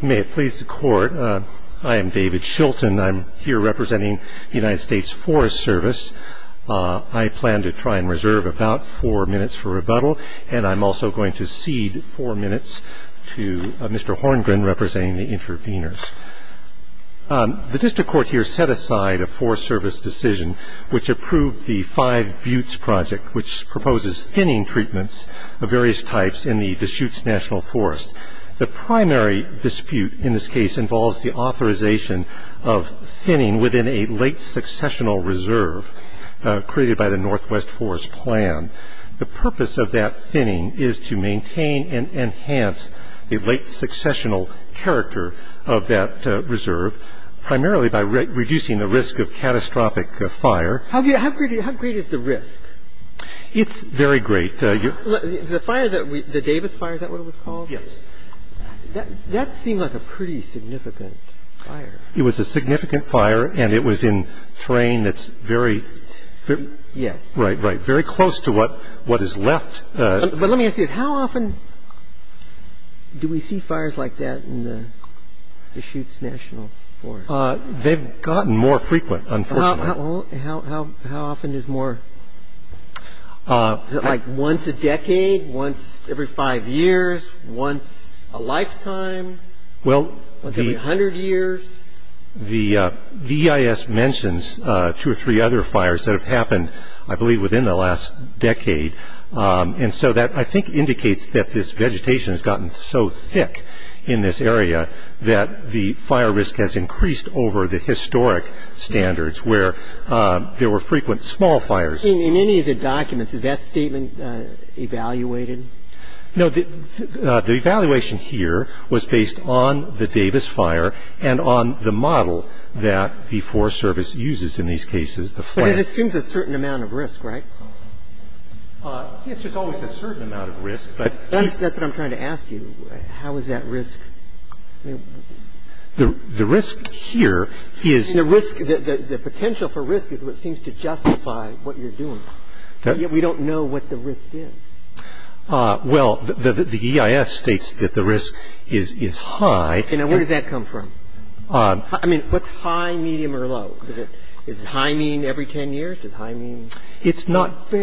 May it please the Court, I am David Shilton. I'm here representing the United States Forest Service. I plan to try and reserve about four minutes for rebuttal, and I'm also going to cede four minutes to Mr. Horngren, representing the interveners. The District Court here set aside a Forest Service decision which approved the Five Buttes Project, which proposes thinning treatments of various types in the Deschutes National Forest. The primary dispute in this case involves the authorization of thinning within a late successional reserve, created by the Northwest Forest Plan. The purpose of that thinning is to maintain and enhance the late successional character of that reserve, primarily by reducing the risk of catastrophic fire. How great is the risk? It's very great. The Davis fire, is that what it was called? Yes. That seemed like a pretty significant fire. It was a significant fire, and it was in terrain that's very close to what is left. But let me ask you this. How often do we see fires like that in the Deschutes National Forest? They've gotten more frequent, unfortunately. How often is more? Is it like once a decade, once every five years, once a lifetime, once every hundred years? The EIS mentions two or three other fires that have happened, I believe, within the last decade. And so that, I think, indicates that this vegetation has gotten so thick in this area that the fire risk has increased over the historic standards where there were frequent small fires. In any of the documents, is that statement evaluated? No. The evaluation here was based on the Davis fire and on the model that the Forest Service uses in these cases, the plan. But it assumes a certain amount of risk, right? It's just always a certain amount of risk. That's what I'm trying to ask you. How is that risk? The risk here is- The risk, the potential for risk is what seems to justify what you're doing. We don't know what the risk is. Well, the EIS states that the risk is high. And where does that come from? I mean, what's high, medium, or low? Is high mean every 10 years? Does high mean fairly, you know, every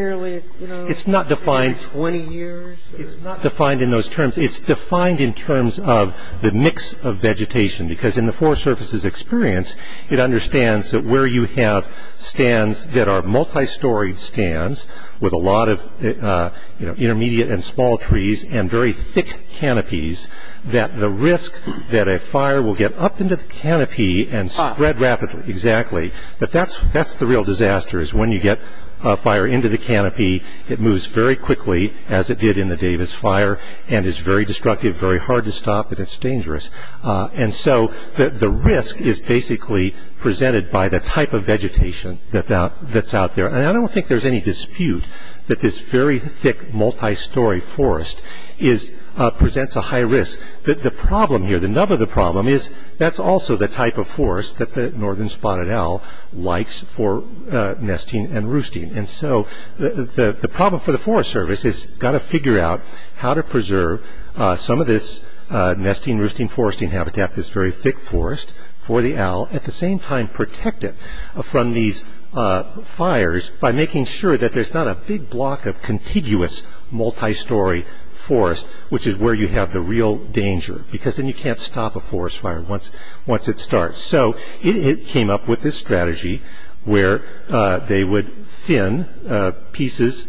20 years? It's not defined in those terms. It's defined in terms of the mix of vegetation. Because in the Forest Service's experience, it understands that where you have stands that are multi-storied stands with a lot of intermediate and small trees and very thick canopies, that the risk that a fire will get up into the canopy and spread rapidly. Exactly. But that's the real disaster, is when you get a fire into the canopy, it moves very quickly, as it did in the Davis fire, and is very destructive, very hard to stop, and it's dangerous. And so the risk is basically presented by the type of vegetation that's out there. And I don't think there's any dispute that this very thick, multi-story forest presents a high risk. The problem here, the nub of the problem, is that's also the type of forest that the northern spotted owl likes for nesting and roosting. And so the problem for the Forest Service is it's got to figure out how to preserve some of this nesting, roosting, foresting habitat, this very thick forest for the owl, at the same time protect it from these fires by making sure that there's not a big block of contiguous, multi-story forest, which is where you have the real danger, because then you can't stop a forest fire once it starts. So it came up with this strategy where they would thin pieces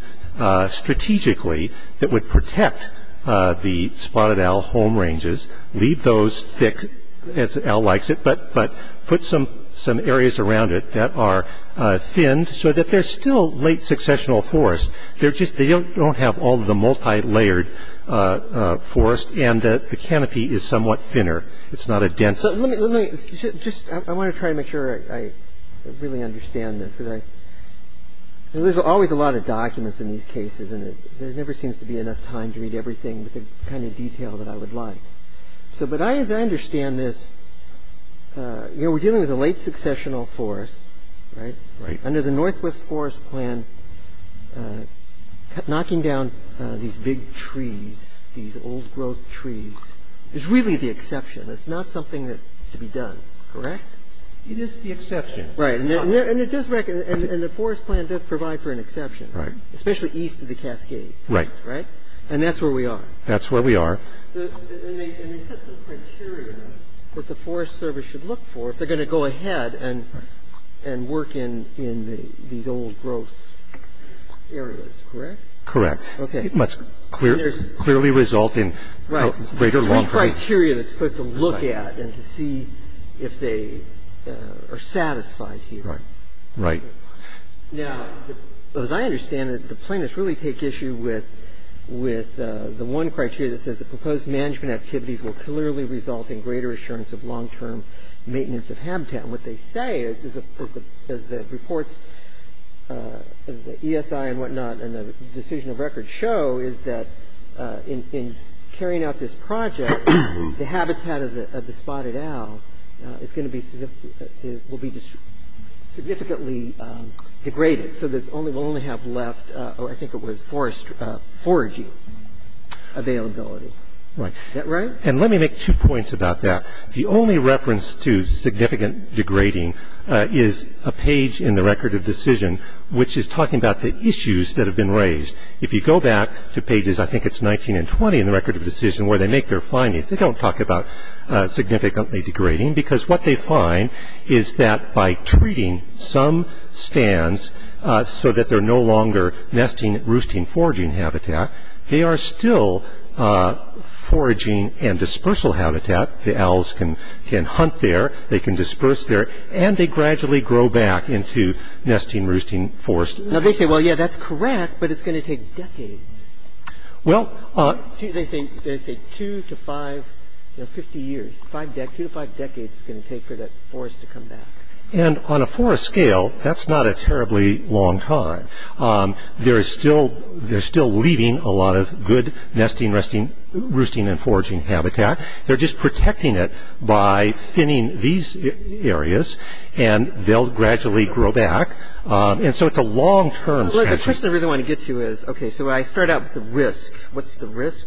strategically that would protect the spotted owl home ranges, leave those thick, as the owl likes it, but put some areas around it that are thinned, so that they're still late successional forests. They don't have all the multi-layered forest, and the canopy is somewhat thinner. I want to try to make sure I really understand this, because there's always a lot of documents in these cases, and there never seems to be enough time to read everything with the kind of detail that I would like. But as I understand this, we're dealing with a late successional forest, right? Right. Under the Northwest Forest Plan, knocking down these big trees, these old-growth trees, is really the exception. It's not something that's to be done, correct? It is the exception. Right. And the forest plan does provide for an exception. Right. Especially east of the Cascades. Right. Right? And that's where we are. That's where we are. And they set some criteria that the Forest Service should look for if they're going to go ahead and work in these old-growth areas, correct? Correct. Okay. It must clearly result in greater long-term... Right. There's three criteria that it's supposed to look at and to see if they are satisfied here. Right. Now, as I understand it, the plaintiffs really take issue with the one criteria that says the proposed management activities will clearly result in greater assurance of long-term maintenance of habitat. And what they say is, as the reports, as the ESI and whatnot and the decision of record show, is that in carrying out this project, the habitat of the spotted owl is going to be significantly degraded. And so the State Department has said that the State Department has said that the State Department will only have left or I think it was forestry, foraging availability. Right. Is that right? And let me make two points about that. The only reference to significant degrading is a page in the record of decision, which is talking about the issues that have been raised. If you go back to pages, I think it's 19 and 20 in the record of decision where they make their findings. They don't talk about significantly degrading because what they find is that by treating some stands so that they're no longer nesting, roosting, foraging habitat, they are still foraging and dispersal habitat. The owls can hunt there. They can disperse there. And they gradually grow back into nesting, roosting forest. Now, they say, well, yeah, that's correct, but it's going to take decades. Well, they say two to five, you know, 50 years, two to five decades it's going to take for that forest to come back. And on a forest scale, that's not a terribly long time. They're still leaving a lot of good nesting, roosting and foraging habitat. They're just protecting it by thinning these areas, and they'll gradually grow back. And so it's a long-term strategy. Well, the question I really want to get to is, okay, so I start out with the risk. What's the risk?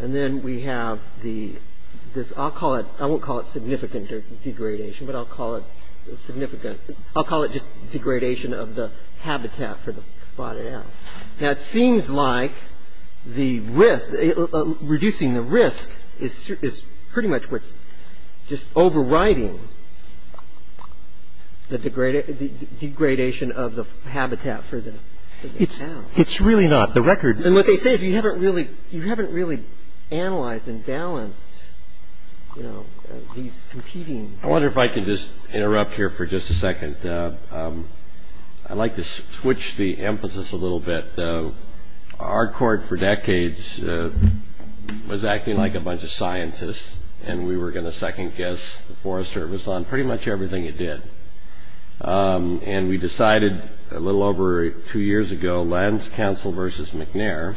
And then we have the – I'll call it – I won't call it significant degradation, but I'll call it significant – I'll call it just degradation of the habitat for the spotted owl. Now, it seems like the risk – reducing the risk is pretty much what's just overriding the degradation of the habitat for the – for the owl. It's really not. The record – And what they say is you haven't really – you haven't really analyzed and balanced, you know, these competing – I wonder if I can just interrupt here for just a second. I'd like to switch the emphasis a little bit. Our court for decades was acting like a bunch of scientists, and we were going to second guess the Forest Service on pretty much everything it did. And we decided a little over two years ago, Lands Council versus McNair,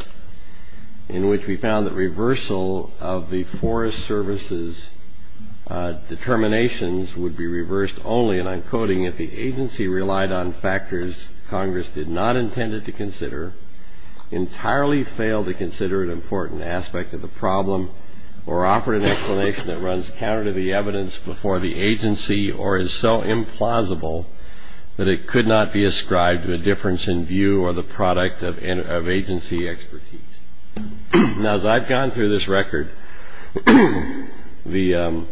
in which we found that reversal of the Forest Service's determinations would be reversed only, and I'm quoting, if the agency relied on factors Congress did not intend it to consider, entirely failed to consider an important aspect of the problem, or offer an explanation that runs counter to the evidence before the agency, or is so implausible that it could not be ascribed to a difference in view or the product of agency expertise. Now, as I've gone through this record, the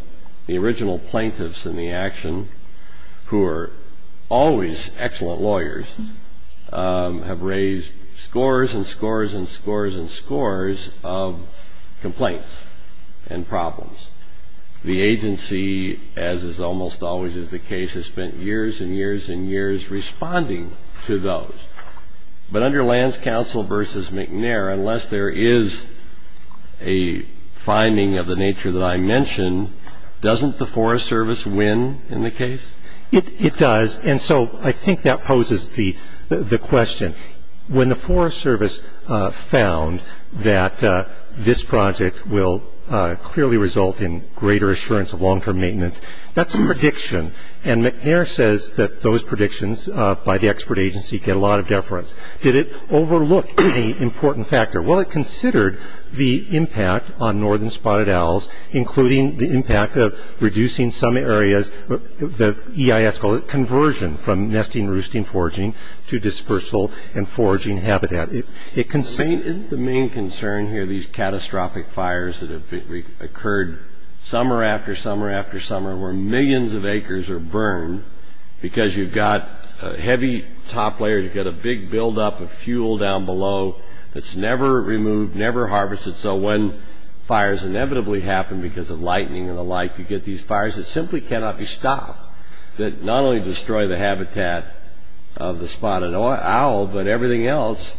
original plaintiffs in the action, who are always excellent lawyers, have raised scores and scores and scores and scores of complaints and problems. The agency, as is almost always the case, has spent years and years and years responding to those. But under Lands Council versus McNair, unless there is a finding of the nature that I mentioned, doesn't the Forest Service win in the case? It does, and so I think that poses the question. When the Forest Service found that this project will clearly result in greater assurance of long-term maintenance, that's a prediction, and McNair says that those predictions by the expert agency get a lot of deference. Did it overlook any important factor? Well, it considered the impact on northern spotted owls, including the impact of reducing some areas, the EIS call it, conversion from nesting, roosting, foraging, to dispersal and foraging habitat. Isn't the main concern here these catastrophic fires that have occurred summer after summer after summer where millions of acres are burned because you've got heavy top layers, you've got a big buildup of fuel down below that's never removed, never harvested, so when fires inevitably happen because of lightning and the like, you get these fires that simply cannot be stopped, that not only destroy the habitat of the spotted owl, but everything else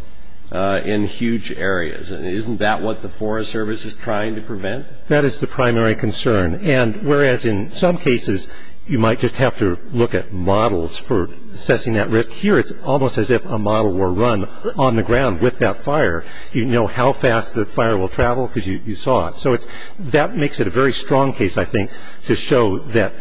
in huge areas, and isn't that what the Forest Service is trying to prevent? That is the primary concern, and whereas in some cases you might just have to look at models for assessing that risk, here it's almost as if a model were run on the ground with that fire. You know how fast the fire will travel because you saw it. So it's – that makes it a very strong case, I think, to show that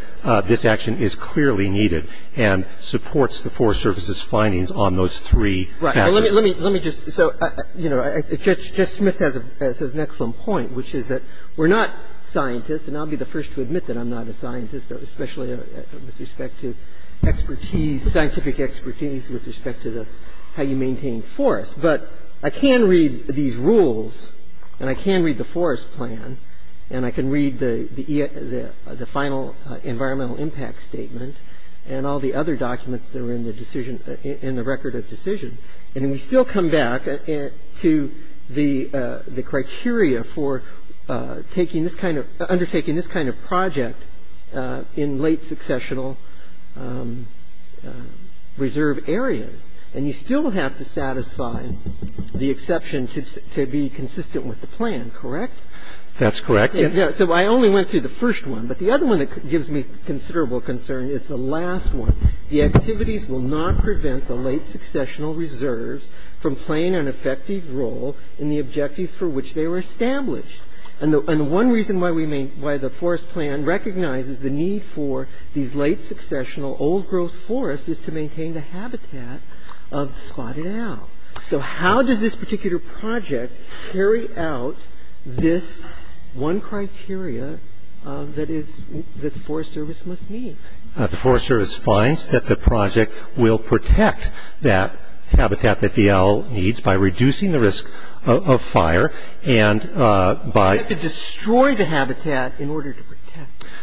this action is clearly needed and supports the Forest Service's findings on those three factors. Right. Let me just – so, you know, Judge Smith has an excellent point, which is that we're not scientists, and I'll be the first to admit that I'm not a scientist, especially with respect to expertise, scientific expertise with respect to the – how you maintain forests. But I can read these rules, and I can read the forest plan, and I can read the final environmental impact statement and all the other documents that are in the decision – in the record of decision, and we still come back to the criteria for taking this kind of – undertaking this kind of project in late successional reserve areas. And you still have to satisfy the exception to be consistent with the plan, correct? That's correct. So I only went through the first one. But the other one that gives me considerable concern is the last one. The activities will not prevent the late successional reserves from playing an effective role in the objectives for which they were established. And the one reason why we may – why the forest plan recognizes the need for these late successional old-growth forests is to maintain the habitat of spotted owl. So how does this particular project carry out this one criteria that is – that the Forest Service must meet? The Forest Service finds that the project will protect that habitat that the owl needs by reducing the risk of fire and by – It could destroy the habitat in order to protect.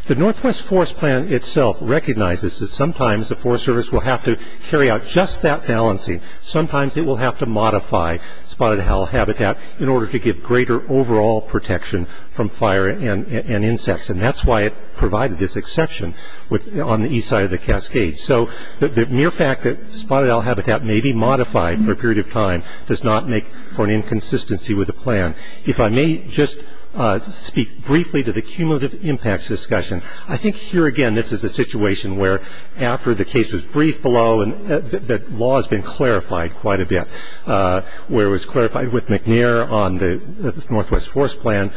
The Northwest Forest Plan itself recognizes that sometimes the Forest Service will have to carry out just that balancing. Sometimes it will have to modify spotted owl habitat in order to give greater overall protection from fire and insects. And that's why it provided this exception on the east side of the cascade. So the mere fact that spotted owl habitat may be modified for a period of time does not make for an inconsistency with the plan. If I may just speak briefly to the cumulative impacts discussion. I think here, again, this is a situation where after the case was briefed below and the law has been clarified quite a bit, where it was clarified with McNair on the Northwest Forest Plan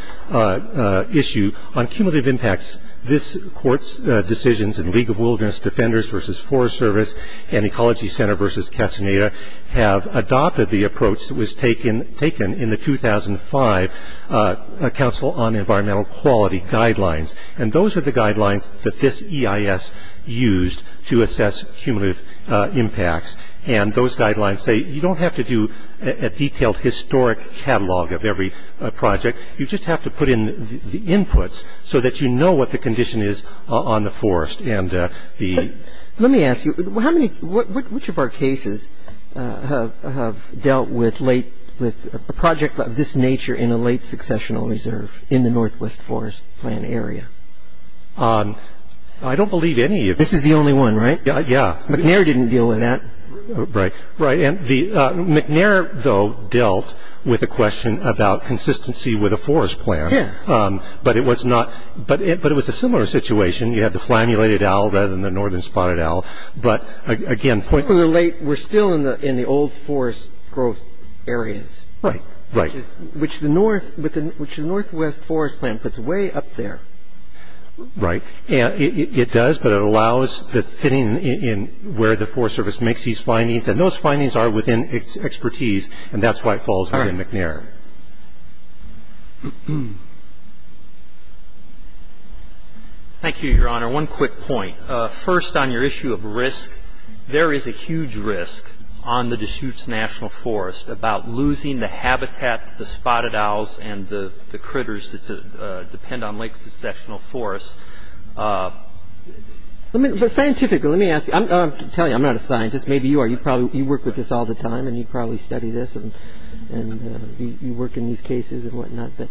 issue, on cumulative impacts, this court's decisions in League of Wilderness Defenders versus Forest Service and Ecology Center versus Castaneda have adopted the approach that was taken in the 2005 Council on Environmental Quality Guidelines. And those are the guidelines that this EIS used to assess cumulative impacts. And those guidelines say you don't have to do a detailed historic catalog of every project. You just have to put in the inputs so that you know what the condition is on the forest and the- But let me ask you, which of our cases have dealt with a project of this nature in a late successional reserve in the Northwest Forest Plan area? I don't believe any of them. This is the only one, right? Yeah. McNair didn't deal with that. Right. And McNair, though, dealt with the question about consistency with a forest plan. Yes. But it was a similar situation. You have the flammulated owl rather than the northern spotted owl. But, again- We're still in the old forest growth areas. Right, right. Which the Northwest Forest Plan puts way up there. Right. It does, but it allows the fitting in where the Forest Service makes these findings. And those findings are within its expertise, and that's why it falls within McNair. Thank you, Your Honor. One quick point. First, on your issue of risk, there is a huge risk on the Deschutes National Forest about losing the habitat to the spotted owls and the critters that depend on late successional forests. But scientifically, let me ask you. I'm telling you, I'm not a scientist. Maybe you are. You work with this all the time, and you probably study this, and you work in these cases and whatnot. But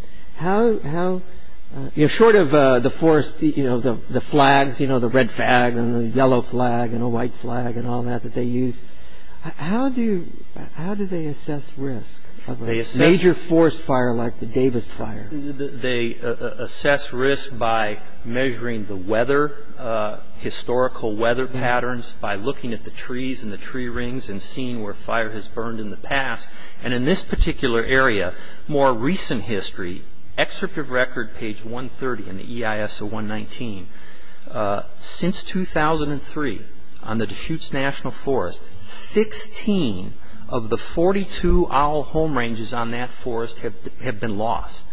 short of the forest, you know, the flags, you know, the red flag and the yellow flag and a white flag and all that that they use, how do they assess risk of a major forest fire like the Davis Fire? They assess risk by measuring the weather, historical weather patterns, by looking at the trees and the tree rings and seeing where fire has burned in the past. And in this particular area, more recent history, excerpt of record page 130 in the EIS of 119, since 2003 on the Deschutes National Forest, 16 of the 42 owl home ranges on that forest have been lost.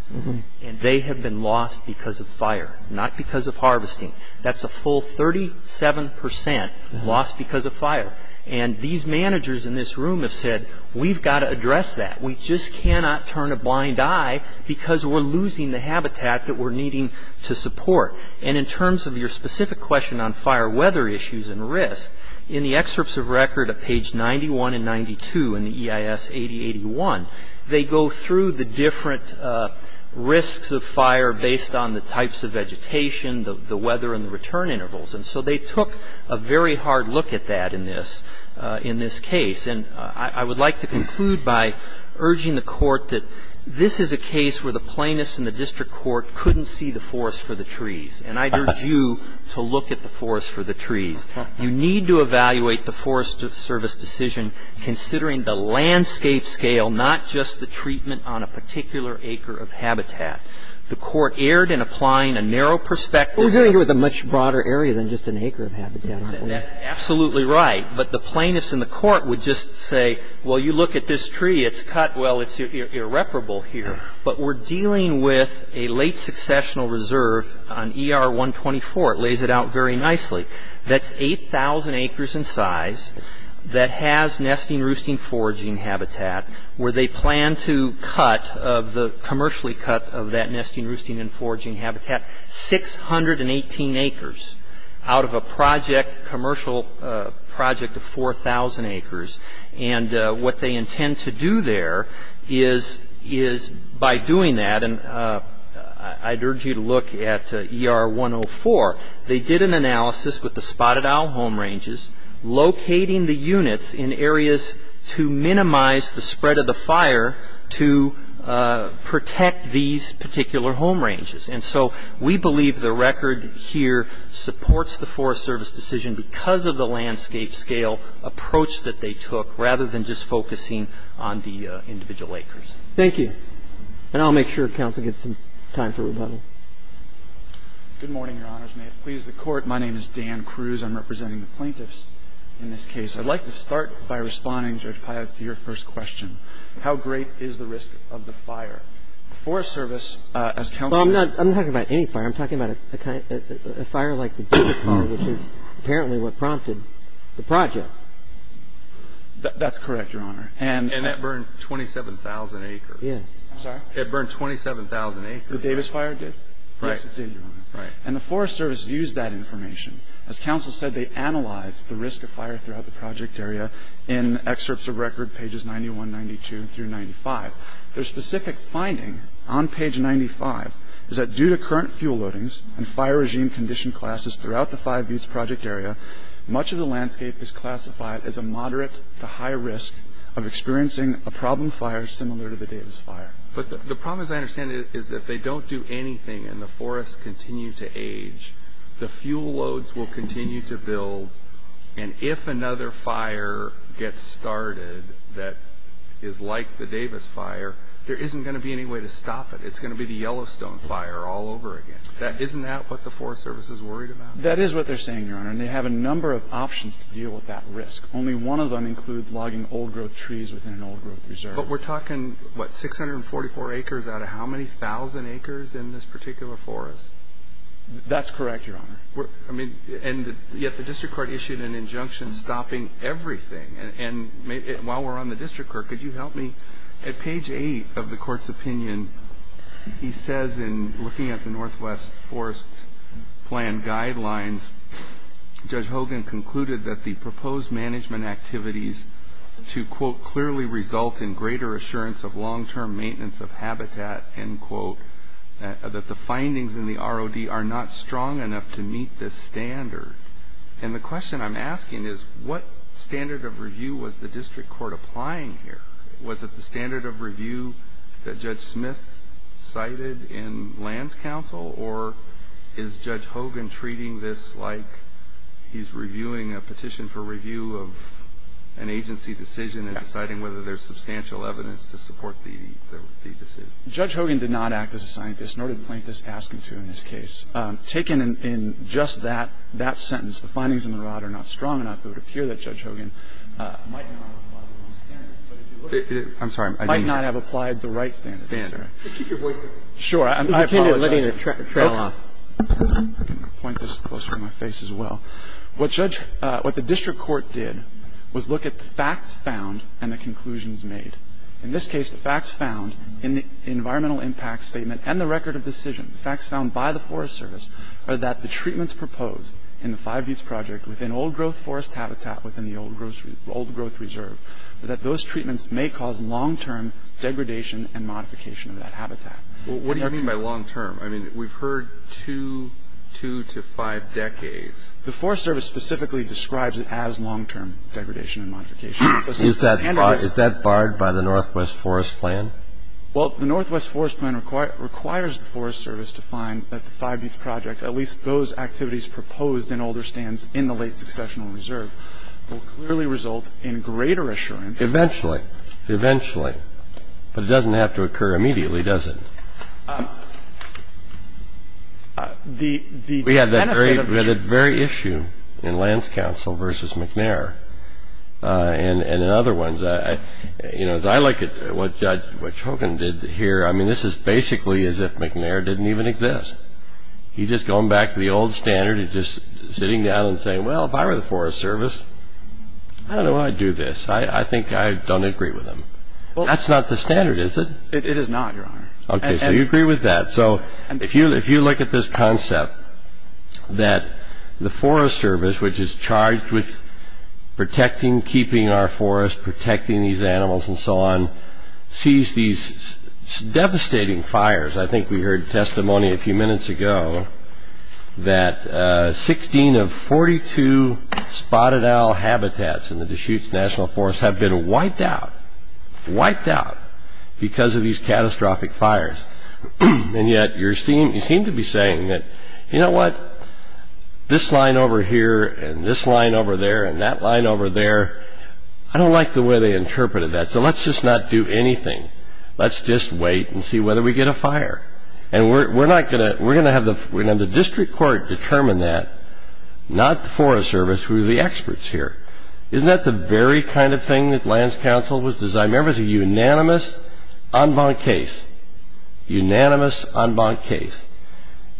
And they have been lost because of fire, not because of harvesting. That's a full 37 percent lost because of fire. And these managers in this room have said, we've got to address that. We just cannot turn a blind eye because we're losing the habitat that we're needing to support. And in terms of your specific question on fire weather issues and risk, in the excerpts of record at page 91 and 92 in the EIS 8081, they go through the different risks of fire based on the types of vegetation, the weather and the return intervals. And so they took a very hard look at that in this case. And I would like to conclude by urging the Court that this is a case where the plaintiffs in the district court couldn't see the forest for the trees. And I urge you to look at the forest for the trees. You need to evaluate the Forest Service decision considering the landscape scale, not just the treatment on a particular acre of habitat. The Court erred in applying a narrow perspective. We're dealing with a much broader area than just an acre of habitat. That's absolutely right. But the plaintiffs in the court would just say, well, you look at this tree. It's cut. Well, it's irreparable here. But we're dealing with a late successional reserve on ER 124. It lays it out very nicely. That's 8,000 acres in size that has nesting, roosting, foraging habitat where they plan to commercially cut of that nesting, roosting and foraging habitat 618 acres out of a commercial project of 4,000 acres. And what they intend to do there is by doing that, and I'd urge you to look at ER 104, they did an analysis with the spotted owl home ranges, locating the units in areas to minimize the spread of the fire to protect these particular home ranges. And so we believe the record here supports the Forest Service decision because of the landscape scale approach that they took rather than just focusing on the individual acres. Thank you. And I'll make sure counsel gets some time for rebuttal. Good morning, Your Honors. May it please the Court. My name is Dan Cruz. I'm representing the plaintiffs in this case. I'd like to start by responding, Judge Piaz, to your first question. How great is the risk of the fire? Well, I'm not talking about any fire. I'm talking about a fire like the Davis fire, which is apparently what prompted the project. That's correct, Your Honor. And that burned 27,000 acres. Yeah. I'm sorry? It burned 27,000 acres. The Davis fire did? Yes, it did, Your Honor. Right. And the Forest Service used that information. As counsel said, they analyzed the risk of fire throughout the project area in excerpts of record pages 91, 92 through 95. Their specific finding on page 95 is that due to current fuel loadings and fire regime condition classes throughout the five-use project area, much of the landscape is classified as a moderate to high risk of experiencing a problem fire similar to the Davis fire. But the problem, as I understand it, is if they don't do anything and the forests continue to age, the fuel loads will continue to build. And if another fire gets started that is like the Davis fire, there isn't going to be any way to stop it. It's going to be the Yellowstone fire all over again. Isn't that what the Forest Service is worried about? That is what they're saying, Your Honor. And they have a number of options to deal with that risk. Only one of them includes logging old-growth trees within an old-growth reserve. But we're talking, what, 644 acres out of how many thousand acres in this particular forest? That's correct, Your Honor. And yet the district court issued an injunction stopping everything. And while we're on the district court, could you help me? At page 8 of the court's opinion, he says in looking at the Northwest Forest Plan guidelines, Judge Hogan concluded that the proposed management activities to, quote, clearly result in greater assurance of long-term maintenance of habitat, end quote, that the findings in the ROD are not strong enough to meet this standard. And the question I'm asking is what standard of review was the district court applying here? Was it the standard of review that Judge Smith cited in Land's counsel? Or is Judge Hogan treating this like he's reviewing a petition for review of an agency decision and deciding whether there's substantial evidence to support the decision? Judge Hogan did not act as a scientist, nor did Plaintiff's ask him to in this case. Taken in just that sentence, the findings in the ROD are not strong enough, it would appear that Judge Hogan might not have applied the wrong standard. I'm sorry. Might not have applied the right standard. Just keep your voice up. Sure. I apologize. You can't let any of the trail off. I'm going to point this closer to my face as well. What the district court did was look at the facts found and the conclusions made. In this case, the facts found in the environmental impact statement and the record of decision, the facts found by the Forest Service are that the treatments proposed in the Five Heats Project within old-growth forest habitat within the old-growth reserve, that those treatments may cause long-term degradation and modification of that habitat. What do you mean by long-term? I mean, we've heard two to five decades. Is that barred by the Northwest Forest Plan? Well, the Northwest Forest Plan requires the Forest Service to find that the Five Heats Project, at least those activities proposed in older stands in the late successional reserve, will clearly result in greater assurance. Eventually. Eventually. But it doesn't have to occur immediately, does it? We had that very issue in Lands Council versus McNair, and in other ones. You know, as I look at what Chokin did here, I mean, this is basically as if McNair didn't even exist. He's just going back to the old standard of just sitting down and saying, well, if I were the Forest Service, I don't know why I'd do this. I think I don't agree with them. That's not the standard, is it? It is not, Your Honor. Okay, so you agree with that. So if you look at this concept that the Forest Service, which is charged with protecting, keeping our forests, protecting these animals and so on, sees these devastating fires. I think we heard testimony a few minutes ago that 16 of 42 spotted owl habitats in the And yet you seem to be saying that, you know what, this line over here and this line over there and that line over there, I don't like the way they interpreted that. So let's just not do anything. Let's just wait and see whether we get a fire. And we're going to have the district court determine that, not the Forest Service. We're the experts here. Isn't that the very kind of thing that Lands Council was designed? Remember, it's a unanimous en banc case, unanimous en banc case.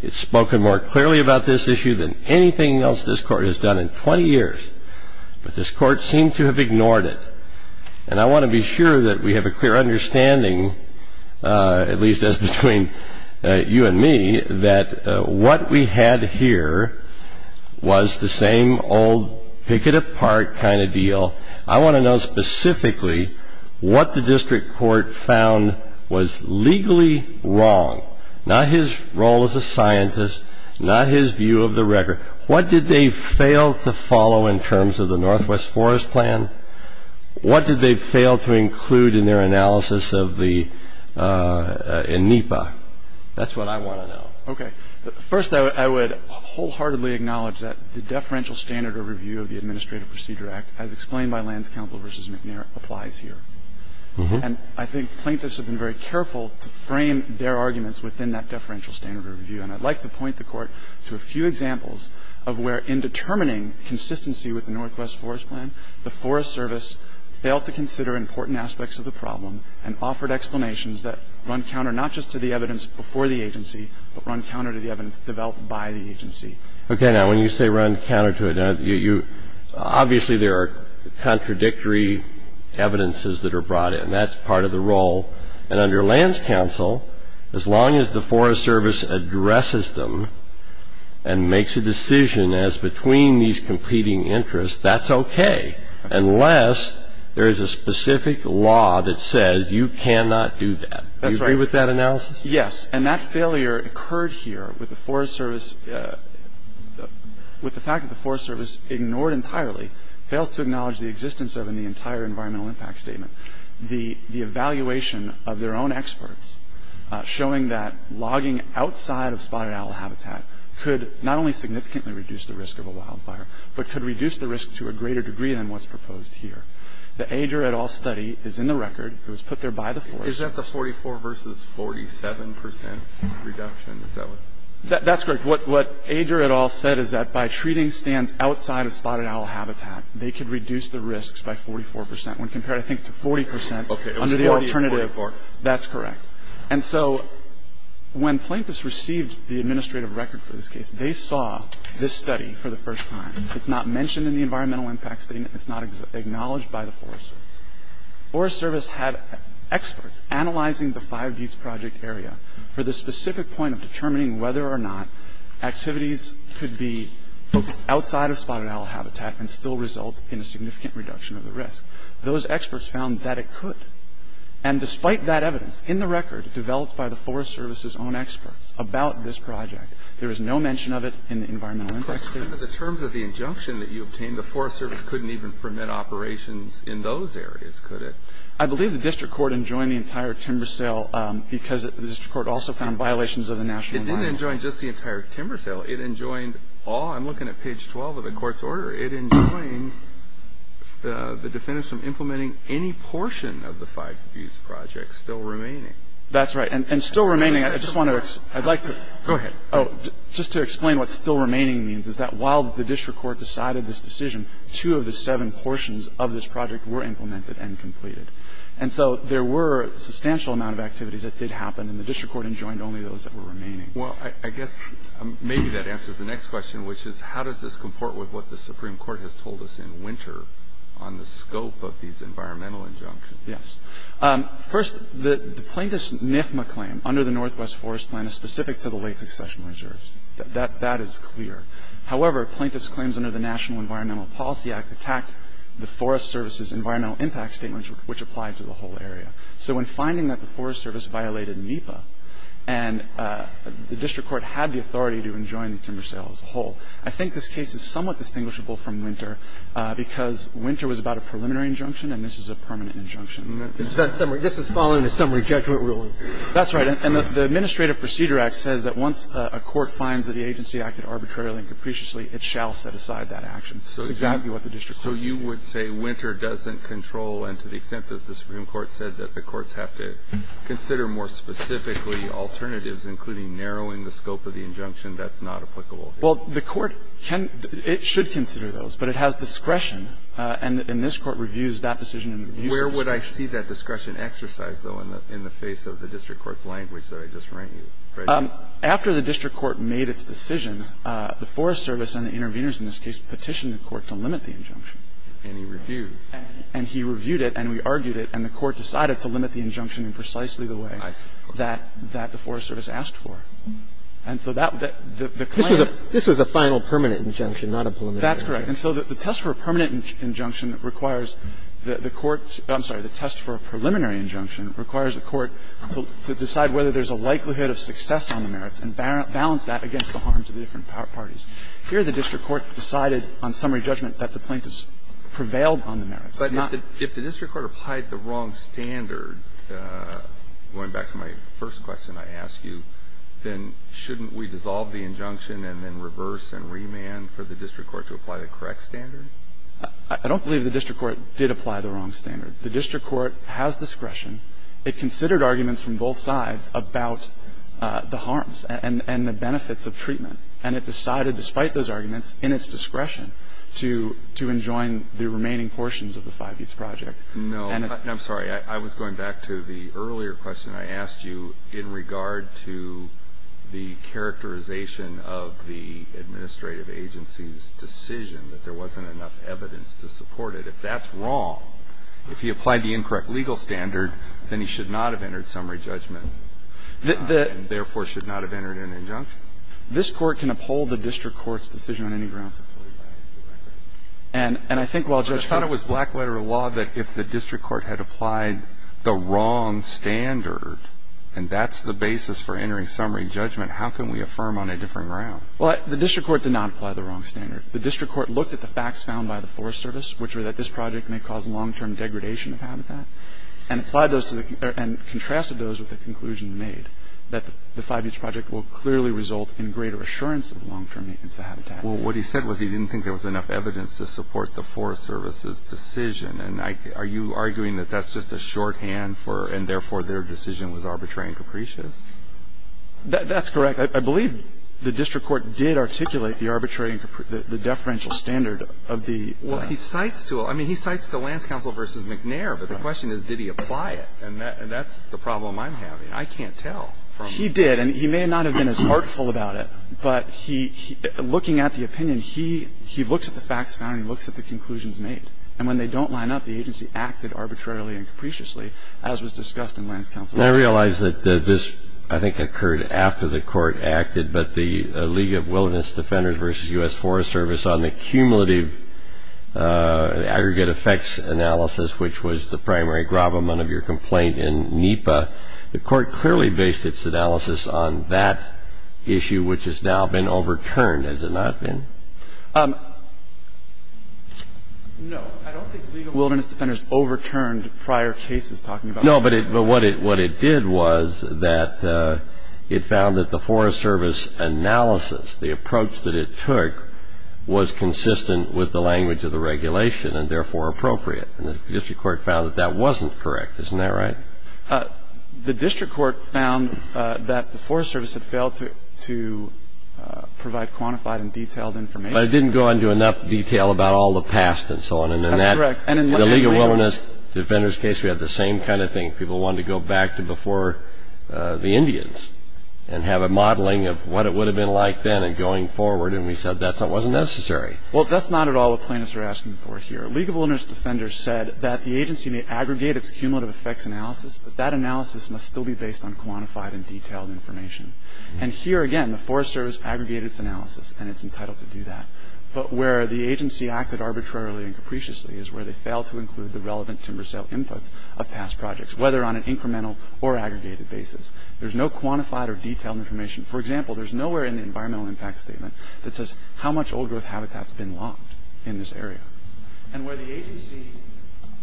It's spoken more clearly about this issue than anything else this Court has done in 20 years. But this Court seemed to have ignored it. And I want to be sure that we have a clear understanding, at least as between you and me, that what we had here was the same old pick-it-apart kind of deal. I want to know specifically what the district court found was legally wrong, not his role as a scientist, not his view of the record. What did they fail to follow in terms of the Northwest Forest Plan? What did they fail to include in their analysis in NEPA? That's what I want to know. Okay. First, I would wholeheartedly acknowledge that the deferential standard of review of the Administrative Procedure Act, as explained by Lands Council v. McNair, applies here. And I think plaintiffs have been very careful to frame their arguments within that deferential standard of review. And I'd like to point the Court to a few examples of where, in determining consistency with the Northwest Forest Plan, the Forest Service failed to consider important aspects of the problem and offered explanations that run counter not just to the evidence before the agency, but run counter to the evidence developed by the agency. Okay. Now, when you say run counter to it, obviously there are contradictory evidences that are brought in. That's part of the role. And under Lands Council, as long as the Forest Service addresses them and makes a decision as between these competing interests, that's okay, unless there is a specific law that says you cannot do that. That's right. Do you agree with that analysis? Yes. And that failure occurred here with the Forest Service, with the fact that the Forest Service ignored entirely, fails to acknowledge the existence of, in the entire environmental impact statement, the evaluation of their own experts showing that logging outside of spotted owl habitat could not only significantly reduce the risk of a wildfire, but could reduce the risk to a greater degree than what's proposed here. The Ager et al. study is in the record. It was put there by the Forest Service. Is that the 44% versus 47% reduction? That's correct. What Ager et al. said is that by treating stands outside of spotted owl habitat, they could reduce the risks by 44% when compared, I think, to 40% under the alternative. That's correct. And so when plaintiffs received the administrative record for this case, they saw this study for the first time. It's not mentioned in the environmental impact statement. It's not acknowledged by the Forest Service. The Forest Service had experts analyzing the Five Geats Project area for the specific point of determining whether or not activities could be focused outside of spotted owl habitat and still result in a significant reduction of the risk. Those experts found that it could. And despite that evidence, in the record, developed by the Forest Service's own experts about this project, there is no mention of it in the environmental impact statement. But in terms of the injunction that you obtained, the Forest Service couldn't even permit operations in those areas, could it? I believe the district court enjoined the entire timber sale because the district court also found violations of the national law. It didn't enjoin just the entire timber sale. It enjoined all of them. I'm looking at page 12 of the Court's order. It enjoined the defendants from implementing any portion of the Five Geats Project still remaining. That's right. And still remaining, I just want to explain. I'd like to explain what still remaining means, is that while the district court decided this decision, two of the seven portions of this project were implemented and completed. And so there were a substantial amount of activities that did happen, and the district court enjoined only those that were remaining. Well, I guess maybe that answers the next question, which is how does this comport with what the Supreme Court has told us in Winter on the scope of these environmental injunctions? Yes. First, the plaintiff's NIFMA claim under the Northwest Forest Plan is specific to the late succession reserves. That is clear. However, plaintiff's claims under the National Environmental Policy Act attacked the Forest Service's environmental impact statements, which applied to the whole area. So when finding that the Forest Service violated NEPA and the district court had the authority to enjoin the timber sale as a whole, I think this case is somewhat distinguishable from Winter because Winter was about a preliminary injunction and this is a permanent injunction. This is following a summary judgment ruling. That's right. And the Administrative Procedure Act says that once a court finds that the agency acted arbitrarily and capriciously, it shall set aside that action. That's exactly what the district court said. So you would say Winter doesn't control and to the extent that the Supreme Court said that the courts have to consider more specifically alternatives, including narrowing the scope of the injunction, that's not applicable here? Well, the court can – it should consider those, but it has discretion and this Court reviews that decision in the review subscription. Where would I see that discretion exercised, though, in the face of the district court's language that I just read you? After the district court made its decision, the Forest Service and the interveners in this case petitioned the court to limit the injunction. And he reviewed. And he reviewed it and we argued it and the court decided to limit the injunction in precisely the way that the Forest Service asked for. And so that – the claim – This was a final permanent injunction, not a preliminary injunction. That's correct. And so the test for a permanent injunction requires the court's – I'm sorry. The test for a preliminary injunction requires the court to decide whether there's a likelihood of success on the merits and balance that against the harms of the different parties. Here, the district court decided on summary judgment that the plaintiffs prevailed on the merits, not – But if the district court applied the wrong standard, going back to my first question I asked you, then shouldn't we dissolve the injunction and then reverse and remand for the district court to apply the correct standard? I don't believe the district court did apply the wrong standard. The district court has discretion. It considered arguments from both sides about the harms and the benefits of treatment, and it decided, despite those arguments, in its discretion, to enjoin the remaining portions of the 5-eats project. No. I'm sorry. I was going back to the earlier question I asked you in regard to the characterization of the administrative agency's decision that there wasn't enough evidence to support If that's wrong, if he applied the incorrect legal standard, then he should not have entered summary judgment and, therefore, should not have entered an injunction. This Court can uphold the district court's decision on any grounds. And I think while Judge Kagan – But I thought it was black letter law that if the district court had applied the wrong standard, and that's the basis for entering summary judgment, how can we affirm on a different ground? Well, the district court did not apply the wrong standard. The district court looked at the facts found by the Forest Service, which were that this project may cause long-term degradation of habitat, and applied those to the – and contrasted those with the conclusion made that the 5-eats project will clearly result in greater assurance of long-term maintenance of habitat. Well, what he said was he didn't think there was enough evidence to support the Forest Service's decision. And I – are you arguing that that's just a shorthand for – and, therefore, their decision was arbitrary and capricious? That's correct. I believe the district court did articulate the arbitrary and – the deferential standard of the – Well, he cites to – I mean, he cites to Lance Counsel v. McNair, but the question is, did he apply it? And that's the problem I'm having. I can't tell from – He did. And he may not have been as heartful about it, but he – looking at the opinion, he looks at the facts found and looks at the conclusions made. And when they don't line up, the agency acted arbitrarily and capriciously, as was discussed in Lance Counsel. And I realize that this, I think, occurred after the Court acted. But the League of Wilderness Defenders v. U.S. Forest Service on the cumulative aggregate effects analysis, which was the primary gravamen of your complaint in NEPA, the Court clearly based its analysis on that issue, which has now been overturned, has it not been? No. I don't think the League of Wilderness Defenders overturned prior cases talking about it. No, but what it did was that it found that the Forest Service analysis, the approach that it took, was consistent with the language of the regulation and therefore appropriate. And the district court found that that wasn't correct. Isn't that right? The district court found that the Forest Service had failed to provide quantified and detailed information. But it didn't go into enough detail about all the past and so on. That's correct. In the League of Wilderness Defenders case, we had the same kind of thing. People wanted to go back to before the Indians and have a modeling of what it would have been like then and going forward. And we said that wasn't necessary. Well, that's not at all what plaintiffs are asking for here. League of Wilderness Defenders said that the agency may aggregate its cumulative effects analysis, but that analysis must still be based on quantified and detailed information. And here, again, the Forest Service aggregated its analysis, and it's entitled to do that. But where the agency acted arbitrarily and capriciously is where they failed to include the relevant timber sale inputs of past projects, whether on an incremental or aggregated basis. There's no quantified or detailed information. For example, there's nowhere in the environmental impact statement that says how much old growth habitat has been logged in this area. And where the agency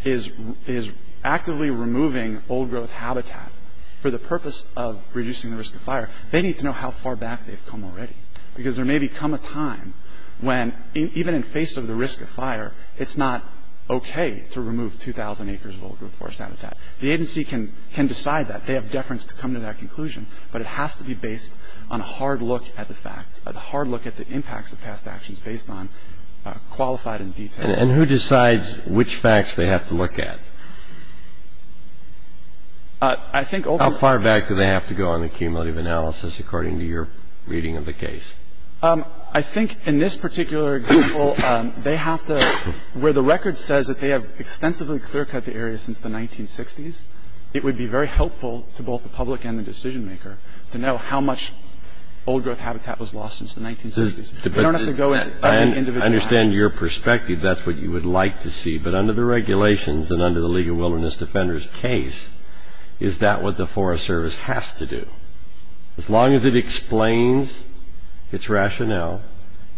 is actively removing old growth habitat for the purpose of reducing the risk of fire, they need to know how far back they've come already. Because there may become a time when, even in face of the risk of fire, it's not okay to remove 2,000 acres of old growth forest habitat. The agency can decide that. They have deference to come to that conclusion. But it has to be based on a hard look at the facts, a hard look at the impacts of past actions based on qualified and detailed information. And who decides which facts they have to look at? I think ultimately How far back do they have to go on the cumulative analysis according to your reading of the case? I think in this particular example, they have to where the record says that they have extensively clear-cut the area since the 1960s, it would be very helpful to both the public and the decision maker to know how much old growth habitat was lost since the 1960s. They don't have to go into every individual action. I understand your perspective. That's what you would like to see. But under the regulations and under the League of Wilderness Defenders' case, is that what the Forest Service has to do? As long as it explains its rationale,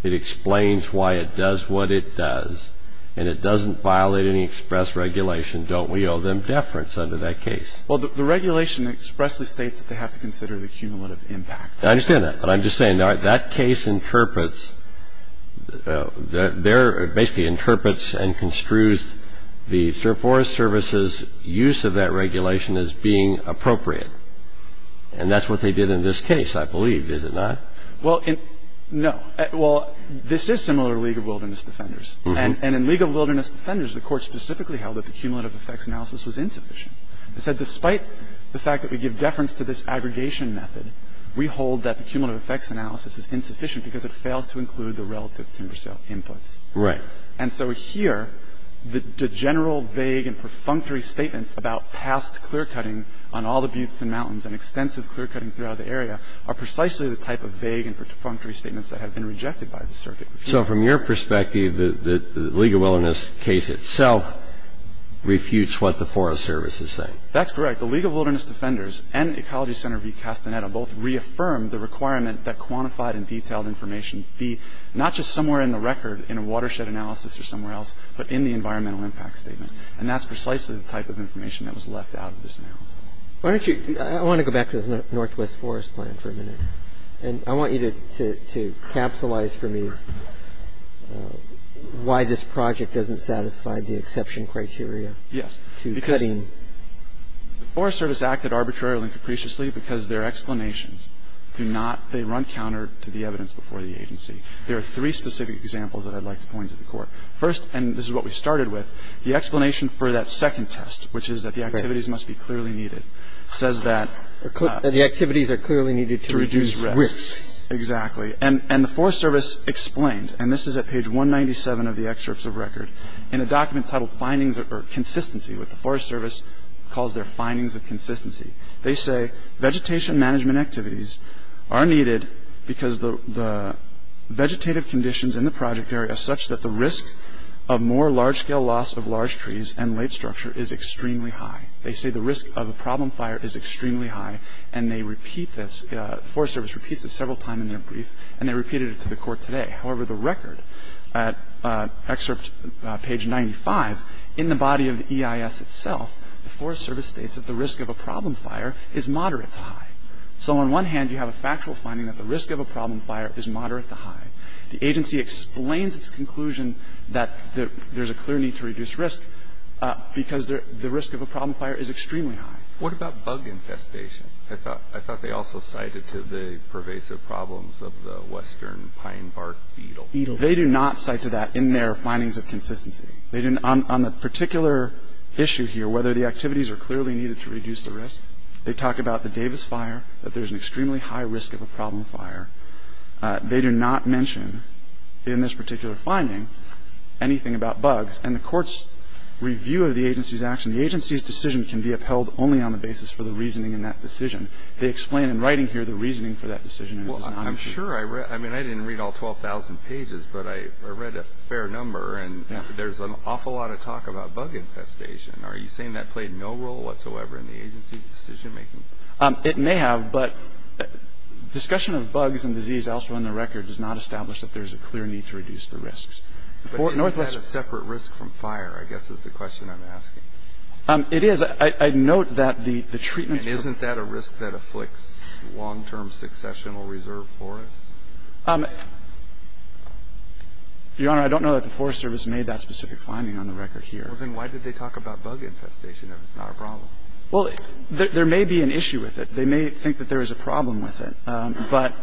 it explains why it does what it does, and it doesn't violate any express regulation, don't we owe them deference under that case? Well, the regulation expressly states that they have to consider the cumulative impacts. I understand that. But I'm just saying that case interprets, basically interprets and construes the Forest Service's use of that regulation as being appropriate. And that's what they did in this case, I believe, is it not? Well, no. Well, this is similar to League of Wilderness Defenders. And in League of Wilderness Defenders, the Court specifically held that the cumulative effects analysis was insufficient. It said despite the fact that we give deference to this aggregation method, we hold that the cumulative effects analysis is insufficient because it fails to include the relative timber sale inputs. Right. And so here, the general vague and perfunctory statements about past clear-cutting on all the buttes and mountains and extensive clear-cutting throughout the area are precisely the type of vague and perfunctory statements that have been rejected by the circuit. So from your perspective, the League of Wilderness case itself refutes what the Forest Service is saying. That's correct. The League of Wilderness Defenders and Ecology Center v. Castaneda both reaffirmed the requirement that quantified and detailed information be not just somewhere in the record in a watershed analysis or somewhere else, but in the environmental impact statement. And that's precisely the type of information that was left out of this analysis. Why don't you – I want to go back to the Northwest Forest Plan for a minute. And I want you to capsulize for me why this project doesn't satisfy the exception criteria. Yes. To cutting. Because the Forest Service acted arbitrarily and capriciously because their explanations do not – they run counter to the evidence before the agency. There are three specific examples that I'd like to point to the Court. First, and this is what we started with, the explanation for that second test, which is that the activities must be clearly needed, says that – That the activities are clearly needed to reduce risks. Exactly. And the Forest Service explained, and this is at page 197 of the excerpts of record, in a document titled Findings or Consistency, what the Forest Service calls their findings of consistency. They say vegetation management activities are needed because the vegetative conditions in the project area are such that the risk of more large-scale loss of large trees and late structure is extremely high. They say the risk of a problem fire is extremely high, and they repeat this – the Forest Service repeats this several times in their brief, and they repeated it to the Court today. However, the record, excerpt page 95, in the body of the EIS itself, the Forest Service states that the risk of a problem fire is moderate to high. So on one hand, you have a factual finding that the risk of a problem fire is moderate to high. The agency explains its conclusion that there's a clear need to reduce risk because the risk of a problem fire is extremely high. What about bug infestation? I thought they also cited to the pervasive problems of the western pine bark beetle. They do not cite to that in their findings of consistency. On the particular issue here, whether the activities are clearly needed to reduce the risk, they talk about the Davis fire, that there's an extremely high risk of a problem fire. They do not mention in this particular finding anything about bugs. And the Court's review of the agency's action, the agency's decision can be upheld only on the basis for the reasoning in that decision. They explain in writing here the reasoning for that decision. Well, I'm sure. I mean, I didn't read all 12,000 pages, but I read a fair number, and there's an awful lot of talk about bug infestation. Are you saying that played no role whatsoever in the agency's decision-making? It may have, but discussion of bugs and disease elsewhere on the record does not establish that there's a clear need to reduce the risks. But isn't that a separate risk from fire, I guess, is the question I'm asking. It is. I note that the treatment's- And isn't that a risk that afflicts long-term successional reserve forests? Your Honor, I don't know that the Forest Service made that specific finding on the record here. Well, then why did they talk about bug infestation if it's not a problem? Well, there may be an issue with it. They may think that there is a problem with it, but-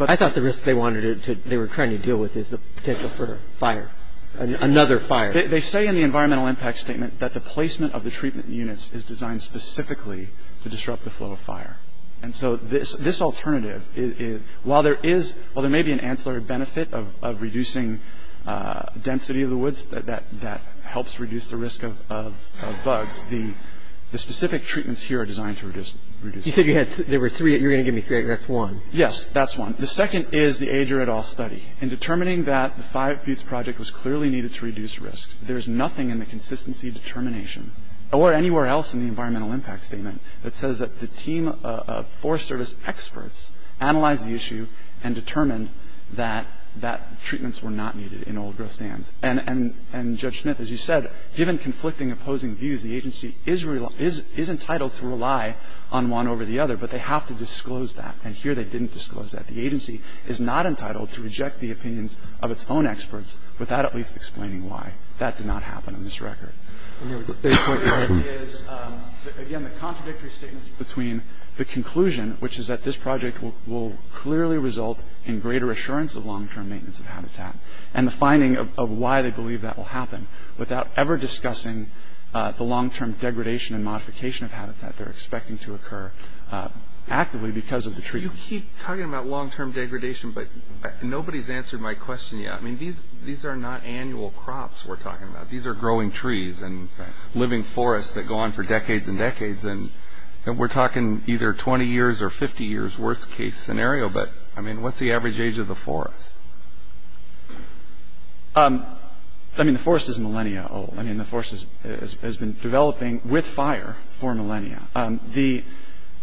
I thought the risk they wanted to- they were trying to deal with is the potential for fire, another fire. They say in the environmental impact statement that the placement of the treatment units is designed specifically to disrupt the flow of fire. And so this alternative, while there is- that helps reduce the risk of bugs, the specific treatments here are designed to reduce- You said you had- there were three. You're going to give me three. That's one. Yes, that's one. The second is the Ager et al. study. In determining that the Five Feuds Project was clearly needed to reduce risk, there is nothing in the consistency determination or anywhere else in the environmental impact statement that says that the team of Forest Service experts analyzed the issue and determined that treatments were not needed in old-growth stands. And Judge Smith, as you said, given conflicting opposing views, the agency is entitled to rely on one over the other, but they have to disclose that. And here they didn't disclose that. The agency is not entitled to reject the opinions of its own experts without at least explaining why. That did not happen in this record. The third point is, again, the contradictory statements between the conclusion, which is that this project will clearly result in greater assurance of long-term maintenance of habitat, and the finding of why they believe that will happen, without ever discussing the long-term degradation and modification of habitat they're expecting to occur actively because of the treatment. You keep talking about long-term degradation, but nobody's answered my question yet. I mean, these are not annual crops we're talking about. These are growing trees and living forests that go on for decades and decades. And we're talking either 20 years or 50 years, worst-case scenario. But, I mean, what's the average age of the forest? I mean, the forest is millennia old. I mean, the forest has been developing with fire for millennia.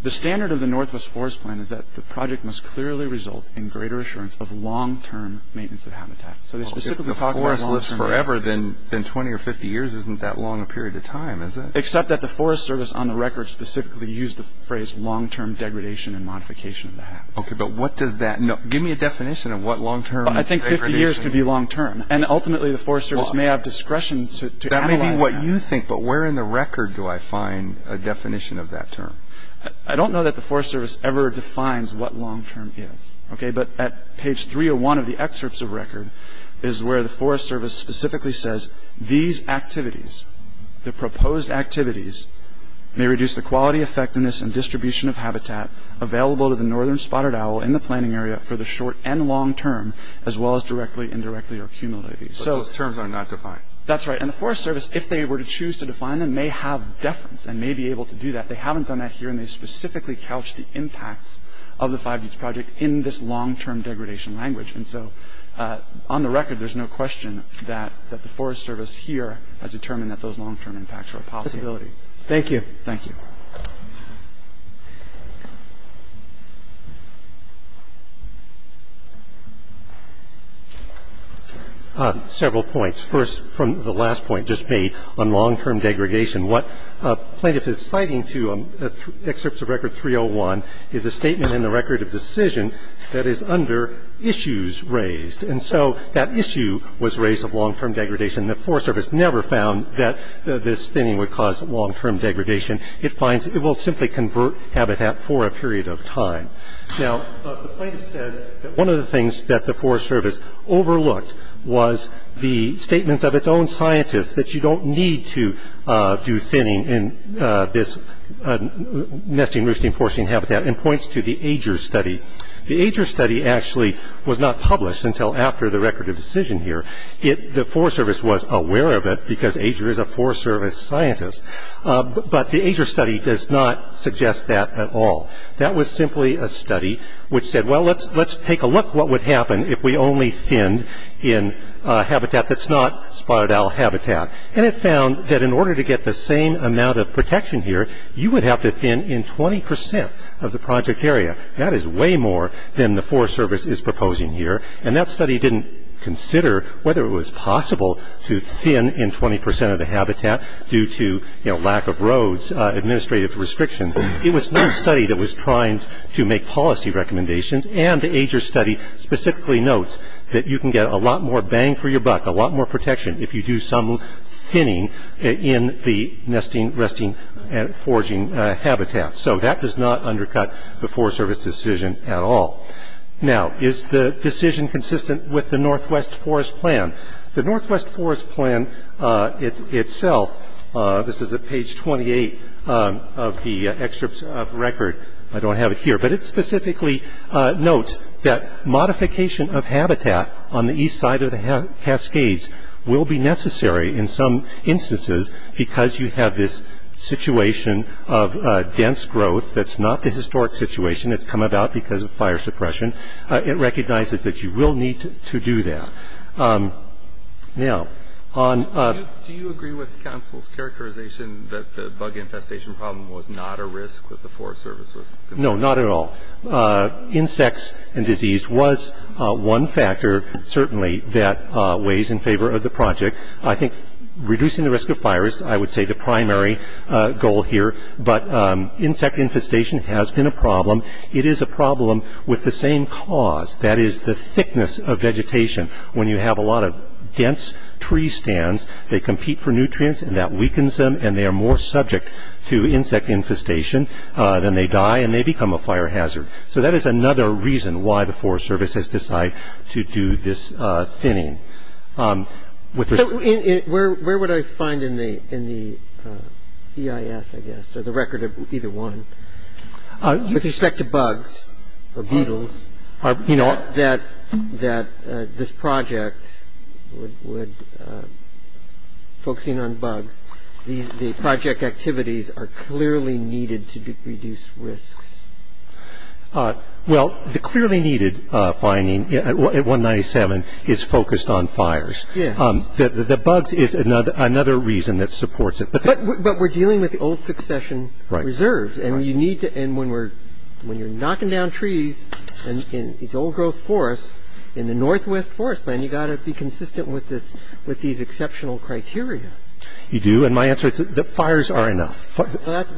The standard of the Northwest Forest Plan is that the project must clearly result in greater assurance of long-term maintenance of habitat. So they specifically talk about long-term maintenance. Well, if the forest lives forever, then 20 or 50 years isn't that long a period of time, is it? Except that the Forest Service on the record specifically used the phrase long-term degradation and modification of the habitat. Okay, but what does that mean? Give me a definition of what long-term degradation is. I think 50 years could be long-term. And, ultimately, the Forest Service may have discretion to analyze that. That may be what you think, but where in the record do I find a definition of that term? I don't know that the Forest Service ever defines what long-term is, okay? But at page 301 of the excerpts of record is where the Forest Service specifically says, these activities, the proposed activities, may reduce the quality, effectiveness, and distribution of habitat available to the Northern Spotted Owl in the planning area for the short and long term, as well as directly, indirectly, or cumulatively. But those terms are not defined. That's right, and the Forest Service, if they were to choose to define them, may have deference and may be able to do that. They haven't done that here, and they specifically couch the impacts of the Five Buttes Project in this long-term degradation language. And so, on the record, there's no question that the Forest Service here has determined that those long-term impacts are a possibility. Thank you. Thank you. Several points. First, from the last point just made on long-term degradation, what a plaintiff is citing to excerpts of record 301 is a statement in the record of decision that is under issues raised. And so, that issue was raised of long-term degradation. The Forest Service never found that this thinning would cause long-term degradation. It finds it will simply convert habitat for a period of time. Now, the plaintiff says that one of the things that the Forest Service overlooked was the statements of its own scientists, that you don't need to do thinning in this nesting, and points to the Ager study. The Ager study actually was not published until after the record of decision here. The Forest Service was aware of it, because Ager is a Forest Service scientist. But the Ager study does not suggest that at all. That was simply a study which said, well, let's take a look what would happen if we only thinned in habitat that's not spotted owl habitat. And it found that in order to get the same amount of protection here, you would have to thin in 20 percent of the project area. That is way more than the Forest Service is proposing here. And that study didn't consider whether it was possible to thin in 20 percent of the habitat due to lack of roads, administrative restrictions. It was one study that was trying to make policy recommendations, and the Ager study specifically notes that you can get a lot more bang for your buck, a lot more protection if you do some thinning in the nesting, resting, and foraging habitat. So that does not undercut the Forest Service decision at all. Now, is the decision consistent with the Northwest Forest Plan? The Northwest Forest Plan itself, this is at page 28 of the excerpt of the record, I don't have it here, but it specifically notes that modification of habitat on the east side of the Cascades will be necessary in some instances because you have this situation of dense growth that's not the historic situation that's come about because of fire suppression. It recognizes that you will need to do that. Now, on... Do you agree with the Council's characterization that the bug infestation problem was not a risk that the Forest Service was... No, not at all. Insects and disease was one factor, certainly, that weighs in favor of the project. I think reducing the risk of fires, I would say, the primary goal here, but insect infestation has been a problem. It is a problem with the same cause, that is, the thickness of vegetation. When you have a lot of dense tree stands, they compete for nutrients, and that weakens them, and they are more subject to insect infestation than they die, and they become a fire hazard. So that is another reason why the Forest Service has decided to do this thinning. Where would I find in the EIS, I guess, or the record of either one, with respect to bugs or beetles, that this project would... The project activities are clearly needed to reduce risks. Well, the clearly needed finding at 197 is focused on fires. Yes. The bugs is another reason that supports it. But we're dealing with old succession reserves, and you need to... And when you're knocking down trees in these old-growth forests, in the Northwest Forest Plan, you've got to be consistent with these exceptional criteria. You do. And my answer is that fires are enough. I thought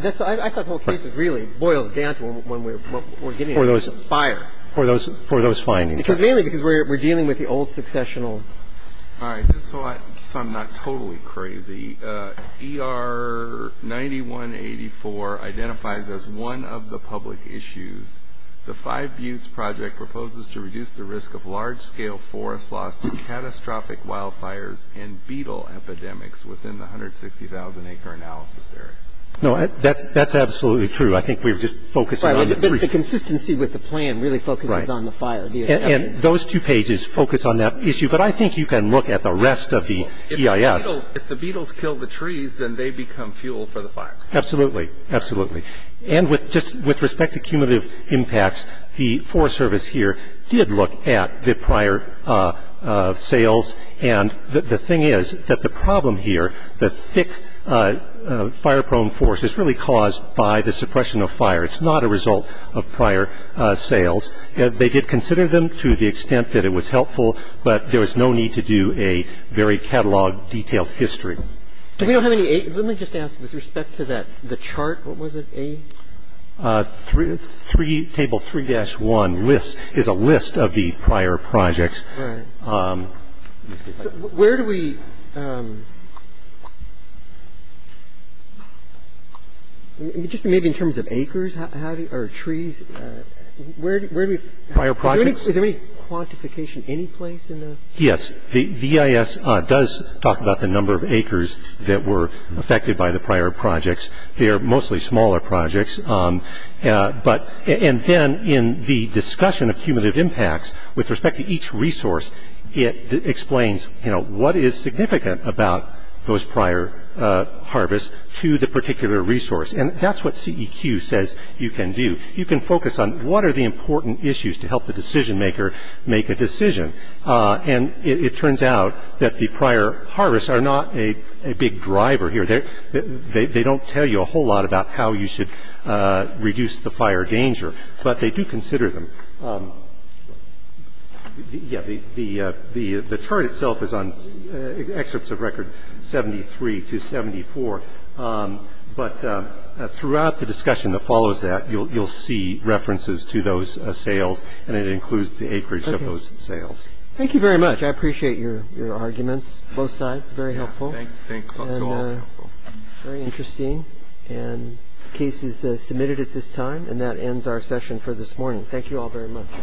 the whole case really boils down to what we're getting at. For those... Fire. For those findings. Mainly because we're dealing with the old successional... All right. So I'm not totally crazy. ER 9184 identifies as one of the public issues, the Five Buttes Project proposes to reduce the risk of large-scale forest loss to catastrophic wildfires and beetle epidemics within the 160,000-acre analysis area. No, that's absolutely true. I think we're just focusing on the three. But the consistency with the plan really focuses on the fire. Right. And those two pages focus on that issue. But I think you can look at the rest of the EIS. If the beetles kill the trees, then they become fuel for the fire. Absolutely. Absolutely. And with respect to cumulative impacts, the Forest Service here did look at the prior sales. And the thing is that the problem here, the thick fire-prone forest is really caused by the suppression of fire. It's not a result of prior sales. They did consider them to the extent that it was helpful, but there was no need to do a very catalog-detailed history. Let me just ask, with respect to the chart, what was it, A? Table 3-1 is a list of the prior projects. Right. Where do we – just maybe in terms of acres, how do you – or trees, where do we – Prior projects. Is there any quantification any place in the – Yes. The EIS does talk about the number of acres that were affected by the prior projects. They are mostly smaller projects. But – and then in the discussion of cumulative impacts, with respect to each resource, it explains, you know, what is significant about those prior harvests to the particular resource. And that's what CEQ says you can do. You can focus on what are the important issues to help the decision-maker make a decision. And it turns out that the prior harvests are not a big driver here. They don't tell you a whole lot about how you should reduce the fire danger, but they do consider them. Yes. The chart itself is on excerpts of record 73 to 74, but throughout the discussion that follows that, you'll see references to those sales, and it includes the acreage of those sales. Okay. Thank you very much. I appreciate your arguments, both sides. Very helpful. Thanks. And very interesting. And the case is submitted at this time, and that ends our session for this morning. Thank you all very much.